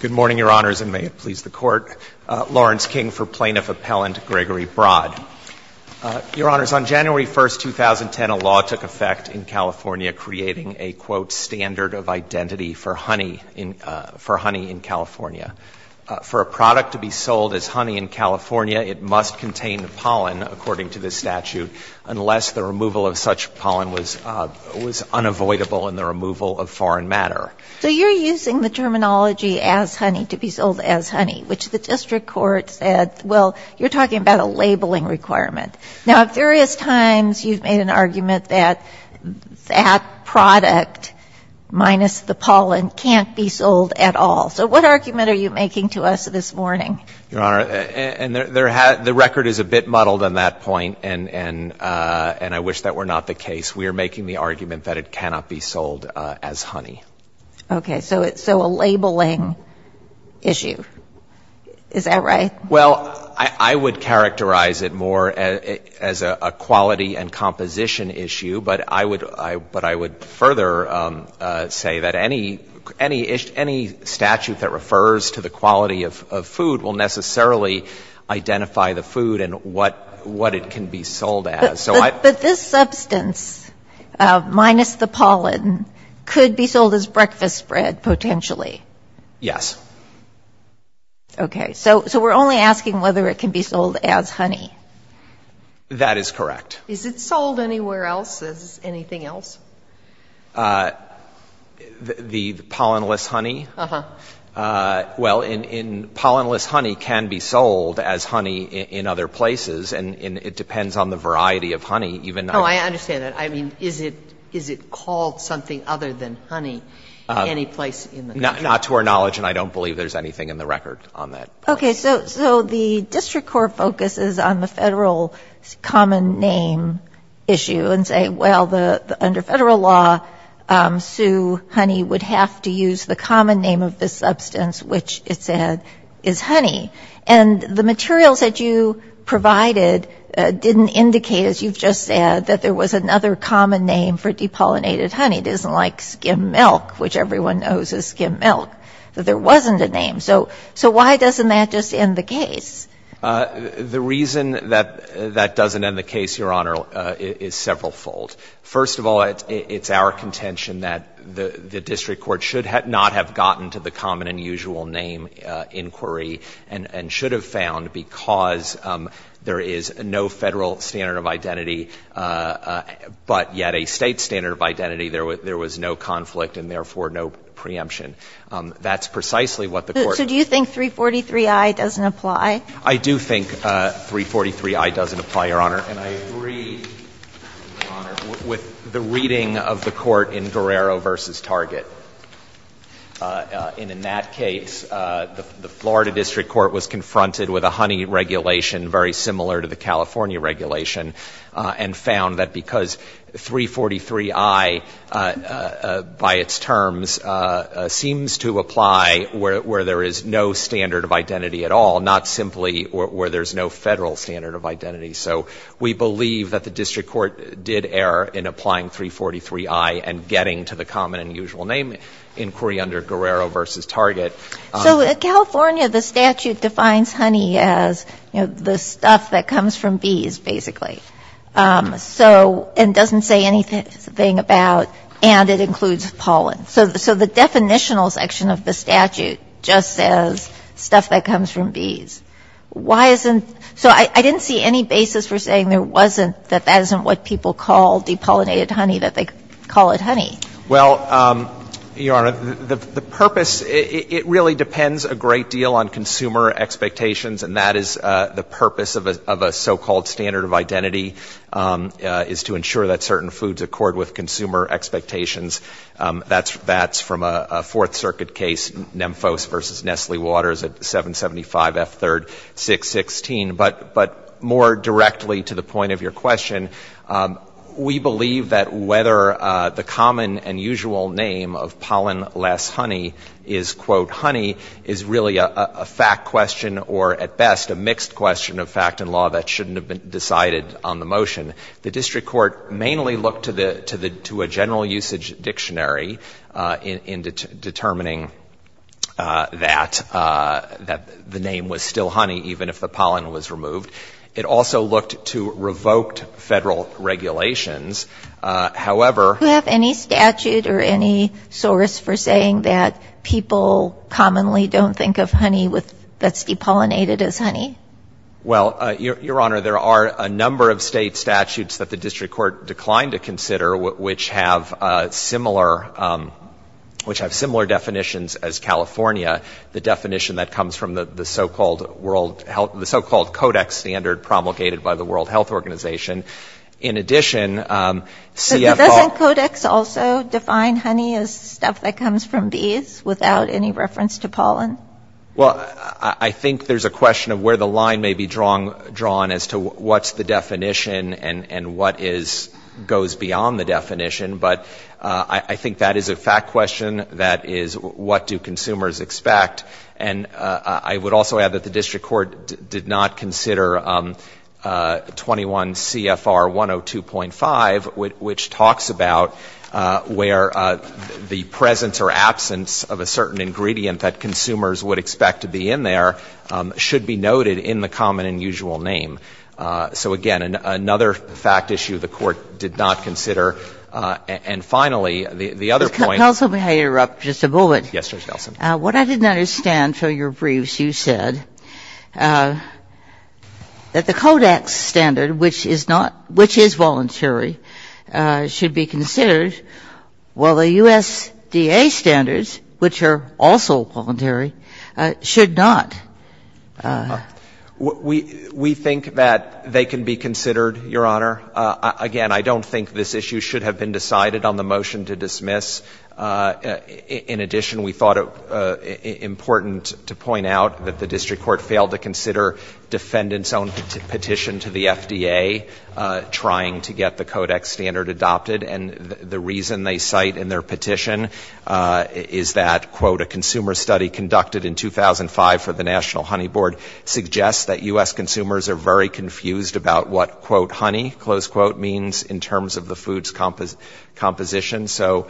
Good morning, Your Honors, and may it please the Court. Lawrence King for Plaintiff Appellant Gregory Brod. Your Honors, on January 1, 2010, a law took effect in California creating a, quote, standard of identity for honey in California. For a product to be sold as honey in California, it must contain pollen, according to the statute, unless the removal of such pollen was unavoidable in the removal of foreign matter. So you're using the terminology, as honey, to be sold as honey, which the district court said, well, you're talking about a labeling requirement. Now, at various times, you've made an argument that that product, minus the pollen, can't be sold at all. So what argument are you making to us this morning? Your Honor, the record is a bit muddled on that point, and I wish that were not the case. We are making the argument that it cannot be sold as honey. Okay. So a labeling issue. Is that right? Well, I would characterize it more as a quality and composition issue, but I would further say that any statute that refers to the quality of food will necessarily identify the food and what it can be sold as. But this substance, minus the pollen, could be sold as breakfast bread, potentially. Yes. Okay. So we're only asking whether it can be sold as honey. That is correct. Is it sold anywhere else as anything else? The pollen-less honey? Uh-huh. Well, pollen-less honey can be sold as honey in other places, and it depends on the variety of honey. Oh, I understand that. I mean, is it called something other than honey in any place in the country? Not to our knowledge, and I don't believe there's anything in the record on that. Okay. So the district court focuses on the Federal common name issue and say, well, under Federal law, Sue Honey would have to use the common name of this substance, which it said is honey. And the materials that you provided didn't indicate, as you've just said, that there was another common name for depollinated honey. It isn't like skim milk, which everyone knows is skim milk, that there wasn't a name. So why doesn't that just end the case? The reason that that doesn't end the case, Your Honor, is severalfold. First of all, it's our contention that the district court should not have gotten to the common and usual name inquiry and should have found, because there is no Federal standard of identity, but yet a State standard of identity, there was no conflict and, therefore, no preemption. That's precisely what the court. So do you think 343i doesn't apply? I do think 343i doesn't apply, Your Honor. And I agree, Your Honor, with the reading of the court in Guerrero v. Target. And in that case, the Florida district court was confronted with a honey regulation very similar to the California regulation and found that because 343i by its terms seems to apply where there is no standard of identity at all, not simply where there is no Federal standard of identity. So we believe that the district court did err in applying 343i and getting to the common and usual name inquiry under Guerrero v. Target. So in California, the statute defines honey as, you know, the stuff that comes from bees, basically. So it doesn't say anything about, and it includes pollen. So the definitional section of the statute just says stuff that comes from bees. Why isn't, so I didn't see any basis for saying there wasn't, that that isn't what people call depollinated honey, that they call it honey. Well, Your Honor, the purpose, it really depends a great deal on consumer expectations, and that is the purpose of a so-called standard of identity is to ensure that certain foods accord with consumer expectations. That's from a Fourth Circuit case, Nemphos v. Nestle Waters at 775 F. 3rd, 616. But more directly to the point of your question, we believe that whether the common and usual name of pollen-less honey is, quote, honey, is really a fact question or, at best, a mixed question of fact and law that shouldn't have been decided on the motion. The district court mainly looked to a general usage dictionary in determining that the name was still honey, even if the pollen was removed. It also looked to revoked Federal regulations. However — Do you have any statute or any source for saying that people commonly don't think of honey that's depollinated as honey? Well, Your Honor, there are a number of state statutes that the district court declined to consider, which have similar definitions as California, the definition that comes from the so-called world — the so-called codex standard promulgated by the World Health Organization. In addition, CF — But doesn't codex also define honey as stuff that comes from bees without any reference to pollen? Well, I think there's a question of where the line may be drawn as to what's the definition and what is — goes beyond the definition. But I think that is a fact question. That is, what do consumers expect? And I would also add that the district court did not consider 21 CFR 102.5, which talks about where the presence or absence of a certain ingredient that consumers would expect to be in there should be noted in the common and usual name. So again, another fact issue the Court did not consider. And finally, the other point — Counsel, may I interrupt just a moment? Yes, Judge Elson. What I didn't understand from your briefs, you said, that the codex standard, which is not — which is voluntary, should be considered, while the USDA standards, which are also voluntary, should not. We think that they can be considered, Your Honor. Again, I don't think this issue should have been decided on the motion to dismiss. In addition, we thought it important to point out that the district court failed to consider defendants' own petition to the FDA trying to get the codex standard adopted. And the reason they cite in their petition is that, quote, a consumer study conducted in 2005 for the National Honey Board suggests that U.S. consumers are very confused about what, quote, honey, close quote, means in terms of the food's composition. So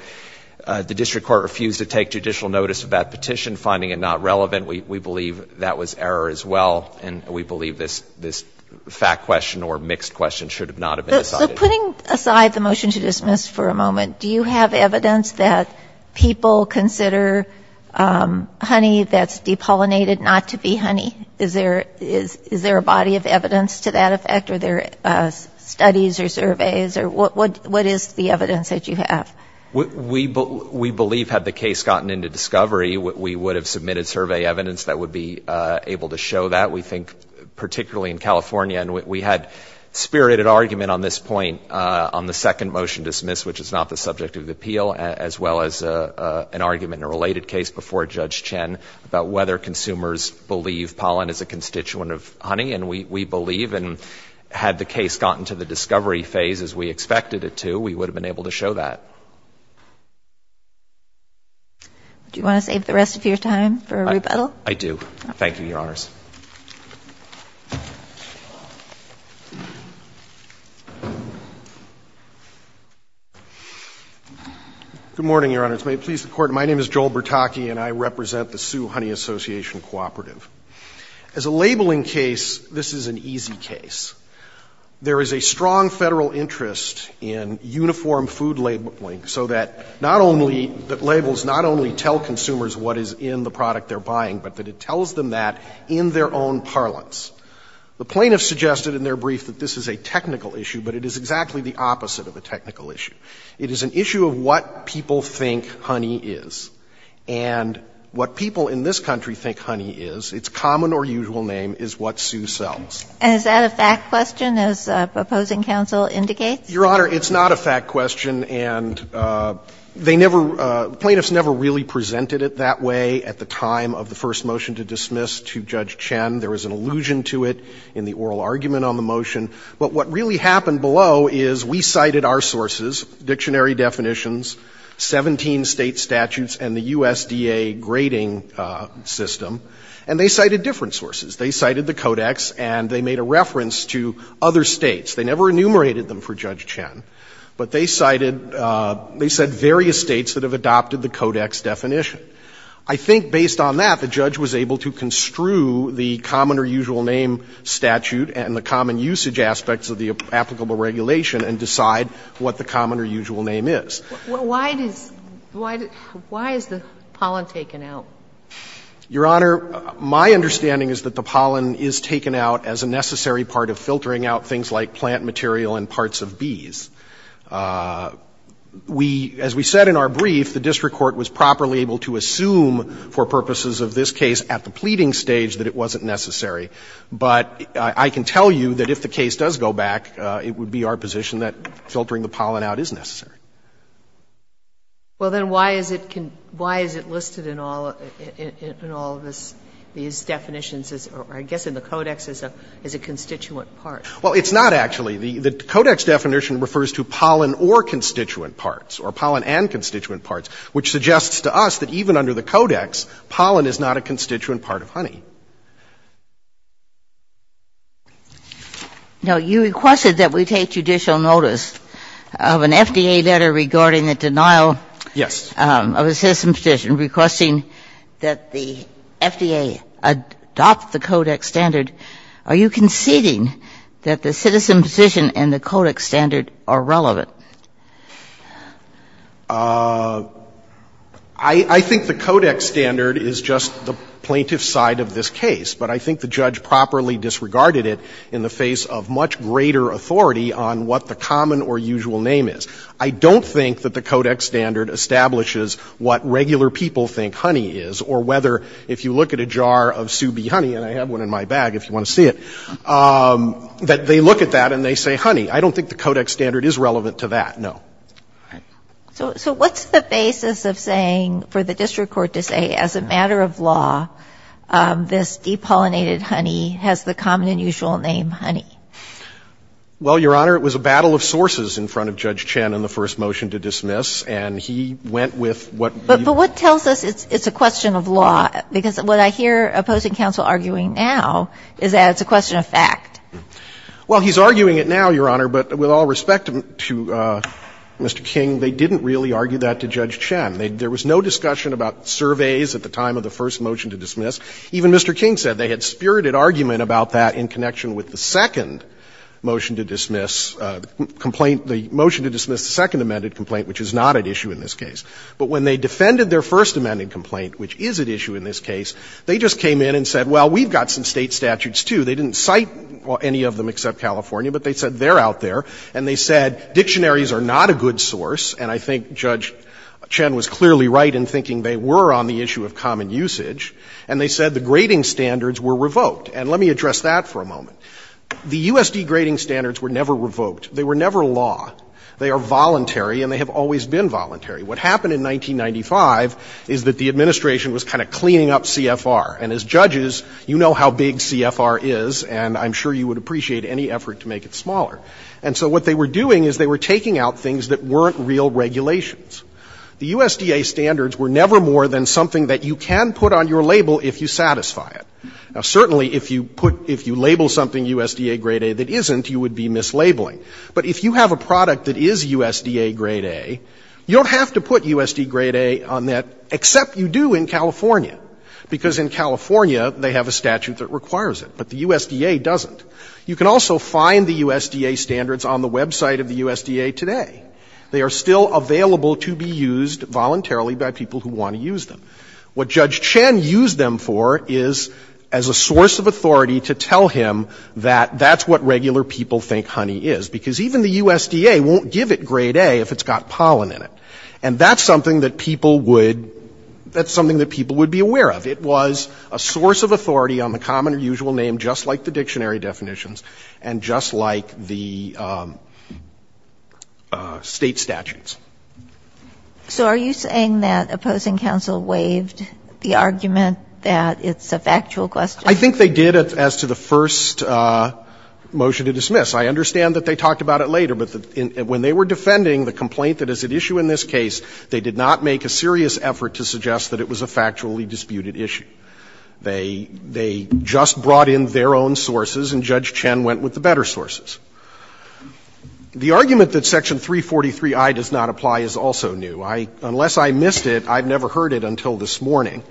the district court refused to take judicial notice of that petition, finding it not relevant. We believe that was error as well. And we believe this fact question or mixed question should not have been decided. Putting aside the motion to dismiss for a moment, do you have evidence that people consider honey that's depollinated not to be honey? Is there a body of evidence to that effect? Are there studies or surveys? Or what is the evidence that you have? We believe, had the case gotten into discovery, we would have submitted survey evidence that would be able to show that. We think particularly in California, and we had spirited argument on this point on the second motion dismissed, which is not the subject of the appeal, as well as an argument in a related case before Judge Chen about whether consumers believe pollen is a constituent of honey. And we believe. And had the case gotten to the discovery phase as we expected it to, we would have been able to show that. Do you want to save the rest of your time for a rebuttal? I do. Thank you, Your Honors. Good morning, Your Honors. May it please the Court, my name is Joel Bertocchi, and I represent the Sioux Honey Association Cooperative. As a labeling case, this is an easy case. There is a strong Federal interest in uniform food labeling so that not only that labels not only tell consumers what is in the product they're buying, but that it tells them that in their own parlance. The plaintiffs suggested in their brief that this is a technical issue, but it is exactly the opposite of a technical issue. It is an issue of what people think honey is. And what people in this country think honey is, its common or usual name, is what Sioux sells. And is that a fact question, as proposing counsel indicates? Your Honor, it's not a fact question. And they never, plaintiffs never really presented it that way at the time of the first motion to dismiss to Judge Chen. There was an allusion to it in the oral argument on the motion. But what really happened below is we cited our sources, dictionary definitions, 17 State statutes, and the USDA grading system. And they cited different sources. They cited the Codex, and they made a reference to other States. They never enumerated them for Judge Chen. But they cited, they said various States that have adopted the Codex definition. I think based on that, the judge was able to construe the common or usual name statute and the common usage aspects of the applicable regulation and decide what the common or usual name is. Why does, why is the pollen taken out? Your Honor, my understanding is that the pollen is taken out as a necessary part of filtering out things like plant material and parts of bees. We, as we said in our brief, the district court was properly able to assume for purposes of this case at the pleading stage that it wasn't necessary. But I can tell you that if the case does go back, it would be our position that filtering the pollen out is necessary. Well, then why is it, why is it listed in all, in all of this, these definitions or I guess in the Codex as a, as a constituent part? Well, it's not actually. The Codex definition refers to pollen or constituent parts or pollen and constituent parts, which suggests to us that even under the Codex, pollen is not a constituent part of honey. Now, you requested that we take judicial notice of an FDA letter regarding the denial. Yes. Of a citizen petition requesting that the FDA adopt the Codex standard, are you conceding that the citizen petition and the Codex standard are relevant? I think the Codex standard is just the plaintiff's side of this case. But I think the judge properly disregarded it in the face of much greater authority on what the common or usual name is. I don't think that the Codex standard establishes what regular people think honey is or whether, if you look at a jar of Sue B. Honey, and I have one in my bag if you want to see it, that they look at that and they say honey. I don't think the Codex standard is relevant to that, no. So what's the basis of saying, for the district court to say, as a matter of law, this depollinated honey has the common and usual name honey? Well, Your Honor, it was a battle of sources in front of Judge Chen in the first motion to dismiss, and he went with what we've been told. But what tells us it's a question of law? Because what I hear opposing counsel arguing now is that it's a question of fact. Well, he's arguing it now, Your Honor. But with all respect to Mr. King, they didn't really argue that to Judge Chen. There was no discussion about surveys at the time of the first motion to dismiss. Even Mr. King said they had spirited argument about that in connection with the second motion to dismiss, the complaint, the motion to dismiss the second amended complaint, which is not at issue in this case. But when they defended their first amended complaint, which is at issue in this case, they just came in and said, well, we've got some State statutes, too. They didn't cite any of them except California, but they said they're out there and they said dictionaries are not a good source, and I think Judge Chen was clearly right in thinking they were on the issue of common usage. And they said the grading standards were revoked. And let me address that for a moment. The USD grading standards were never revoked. They were never law. They are voluntary, and they have always been voluntary. What happened in 1995 is that the administration was kind of cleaning up CFR. And as judges, you know how big CFR is, and I'm sure you would appreciate any effort to make it smaller. And so what they were doing is they were taking out things that weren't real regulations. The USDA standards were never more than something that you can put on your label if you satisfy it. Now, certainly, if you put, if you label something USDA grade A that isn't, you would be mislabeling. But if you have a product that is USDA grade A, you don't have to put USDA grade A on that, except you do in California, because in California they have a statute that requires it, but the USDA doesn't. You can also find the USDA standards on the website of the USDA today. They are still available to be used voluntarily by people who want to use them. What Judge Chen used them for is as a source of authority to tell him that that's what regular people think honey is, because even the USDA won't give it grade A if it's got pollen in it. And that's something that people would, that's something that people would be aware of. It was a source of authority on the common or usual name, just like the dictionary definitions, and just like the State statutes. So are you saying that opposing counsel waived the argument that it's a factual question? I think they did as to the first motion to dismiss. I understand that they talked about it later, but when they were defending the complaint that is at issue in this case, they did not make a serious effort to suggest that it was a factually disputed issue. They just brought in their own sources, and Judge Chen went with the better sources. The argument that Section 343i does not apply is also new. Unless I missed it, I've never heard it until this morning.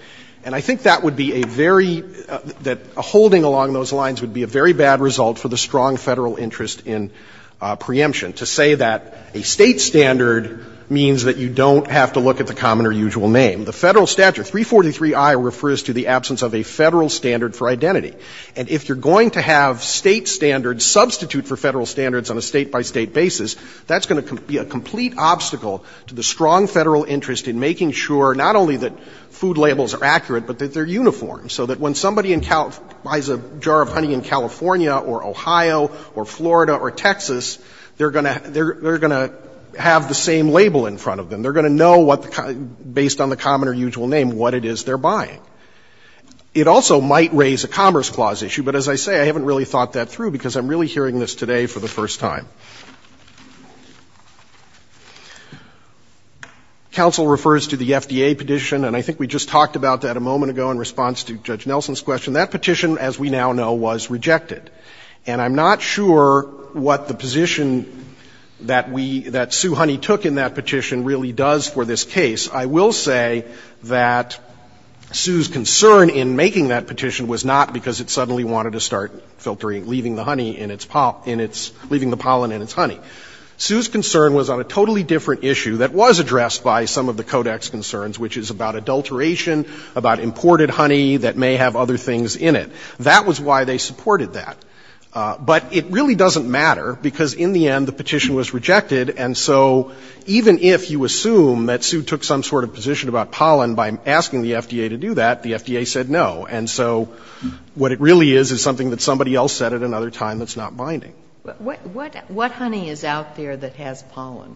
And I think that would be a very, that holding along those lines would be a very bad result for the strong Federal interest in preemption, to say that a State standard means that you don't have to look at the common or usual name. The Federal statute, 343i, refers to the absence of a Federal standard for identity. And if you're going to have State standards substitute for Federal standards on a State-by-State basis, that's going to be a complete obstacle to the strong Federal interest in making sure not only that food labels are accurate, but that they're uniform, so that when somebody buys a jar of honey in California or Ohio or Florida or Texas, they're going to have the same label in front of them. They're going to know what the common, based on the common or usual name, what it is they're buying. It also might raise a Commerce Clause issue, but as I say, I haven't really thought that through, because I'm really hearing this today for the first time. Counsel refers to the FDA petition, and I think we just talked about that a moment ago in response to Judge Nelson's question. That petition, as we now know, was rejected. And I'm not sure what the position that we, that Sue Honey took in that petition really does for this case. I will say that Sue's concern in making that petition was not because it suddenly wanted to start filtering, leaving the honey in its, leaving the pollen in its honey. Sue's concern was on a totally different issue that was addressed by some of the Codex concerns, which is about adulteration, about imported honey that may have other things in it. That was why they supported that. But it really doesn't matter, because in the end, the petition was rejected. And so even if you assume that Sue took some sort of position about pollen by asking the FDA to do that, the FDA said no. And so what it really is, is something that somebody else said at another time that's not binding. What honey is out there that has pollen?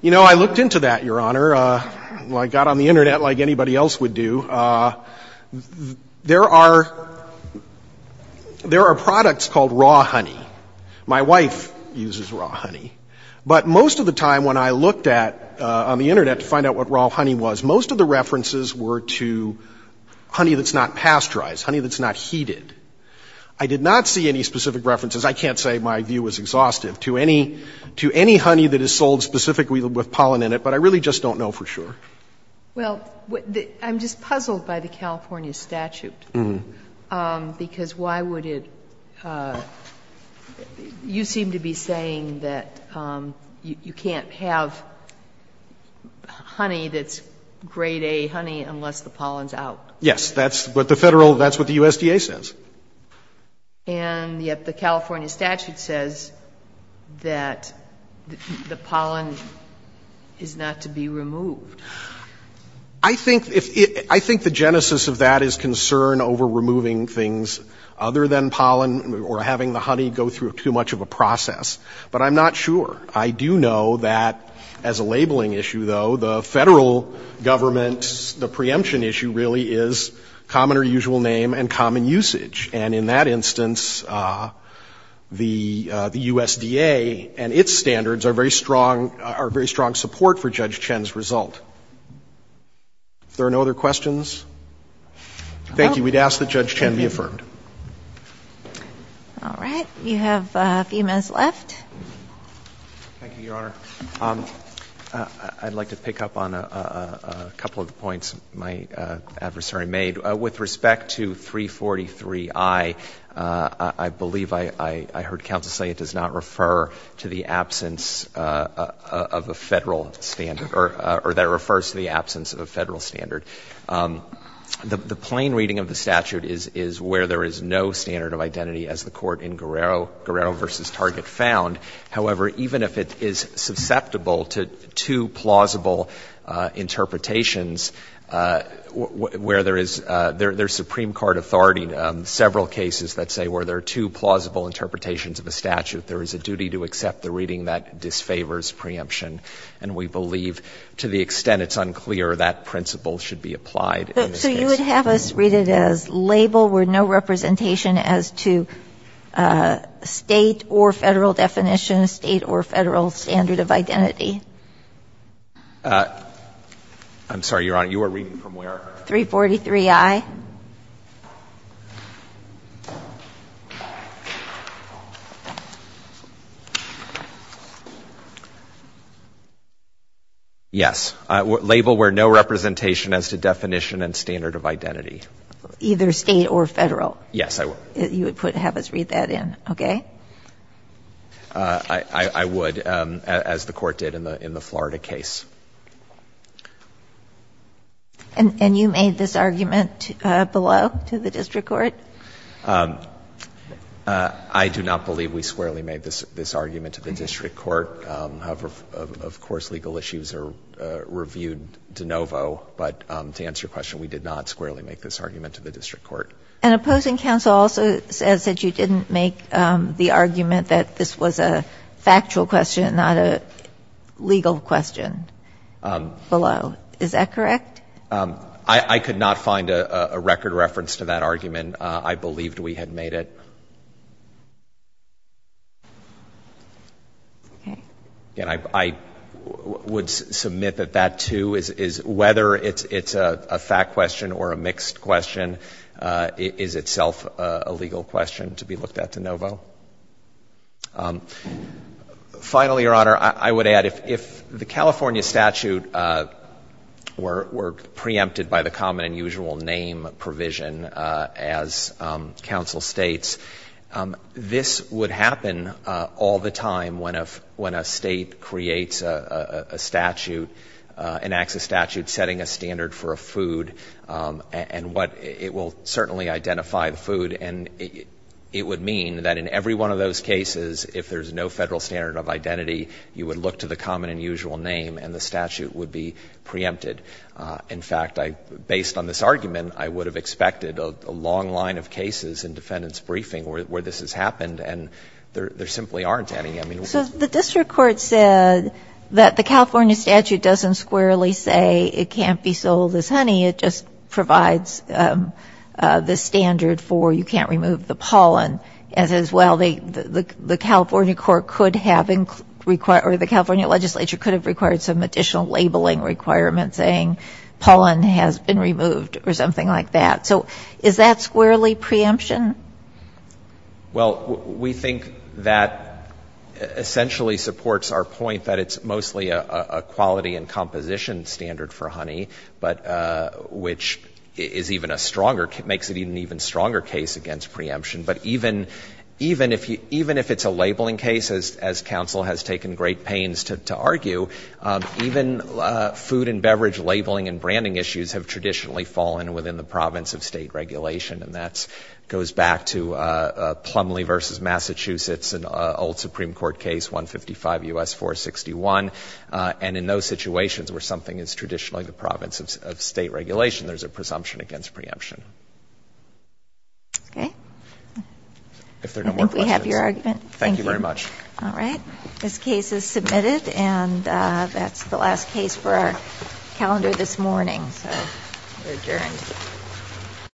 You know, I looked into that, Your Honor. I got on the Internet like anybody else would do. There are, there are products called raw honey. My wife uses raw honey. But most of the time when I looked at, on the Internet, to find out what raw honey was, most of the references were to honey that's not pasteurized, honey that's not heated. I did not see any specific references, I can't say my view was exhaustive, to any, to any honey that is sold specifically with pollen in it, but I really just don't know for sure. Well, I'm just puzzled by the California statute, because why would it, you seem to be saying that you can't have honey that's grade A honey unless the pollen's out. Yes. That's what the Federal, that's what the USDA says. And yet the California statute says that the pollen is not to be removed. I think if, I think the genesis of that is concern over removing things other than But I'm not sure. I do know that as a labeling issue, though, the Federal government's, the preemption issue really is common or usual name and common usage. And in that instance, the, the USDA and its standards are very strong, are very strong support for Judge Chen's result. If there are no other questions? Thank you. We'd ask that Judge Chen be affirmed. All right. You have a few minutes left. Thank you, Your Honor. I'd like to pick up on a couple of the points my adversary made. With respect to 343I, I believe I heard counsel say it does not refer to the absence of a Federal standard, or that it refers to the absence of a Federal standard. The plain reading of the statute is where there is no standard of identity, as the Court in Guerrero v. Target found. However, even if it is susceptible to two plausible interpretations, where there is, there's Supreme Court authority on several cases that say where there are two plausible interpretations of a statute, there is a duty to accept the reading that disfavors preemption. And we believe, to the extent it's unclear, that principle should be applied in this case. So you would have us read it as label with no representation as to State or Federal definition, State or Federal standard of identity? I'm sorry, Your Honor. You were reading from where? 343I. Yes. Label where no representation as to definition and standard of identity. Either State or Federal? Yes, I would. You would have us read that in, okay? I would, as the Court did in the Florida case. And you made this argument below to the district court? I do not believe we squarely made this argument to the district court. However, of course, legal issues are reviewed de novo. But to answer your question, we did not squarely make this argument to the district court. And opposing counsel also says that you didn't make the argument that this was a factual question, not a legal question. Below. Is that correct? I could not find a record reference to that argument. I believed we had made it. Okay. Again, I would submit that that, too, is whether it's a fact question or a mixed question, is itself a legal question to be looked at de novo. Finally, Your Honor, I would add, if the California statute were preempted by the common and usual name provision as counsel states, this would happen all the time when a State creates a statute, enacts a statute setting a standard for a food and what it will certainly identify the food. And it would mean that in every one of those cases, if there's no Federal standard of identity, you would look to the common and usual name and the statute would be preempted. In fact, based on this argument, I would have expected a long line of cases in defendant's briefing where this has happened. And there simply aren't any. I mean, what's the point? So the district court said that the California statute doesn't squarely say it can't be sold as honey. It just provides the standard for you can't remove the pollen. And it says, well, the California court could have, or the California legislature could have required some additional labeling requirements saying pollen has been removed or something like that. So is that squarely preemption? Well, we think that essentially supports our point that it's mostly a quality and quality case, which is even a stronger, makes it an even stronger case against preemption. But even if it's a labeling case, as counsel has taken great pains to argue, even food and beverage labeling and branding issues have traditionally fallen within the province of state regulation. And that goes back to Plumlee v. Massachusetts, an old Supreme Court case, 155 U.S. 461. And in those situations where something is traditionally the province of state regulation, there's a presumption against preemption. Okay. If there are no more questions. I think we have your argument. Thank you very much. All right. This case is submitted. And that's the last case for our calendar this morning. So we're adjourned.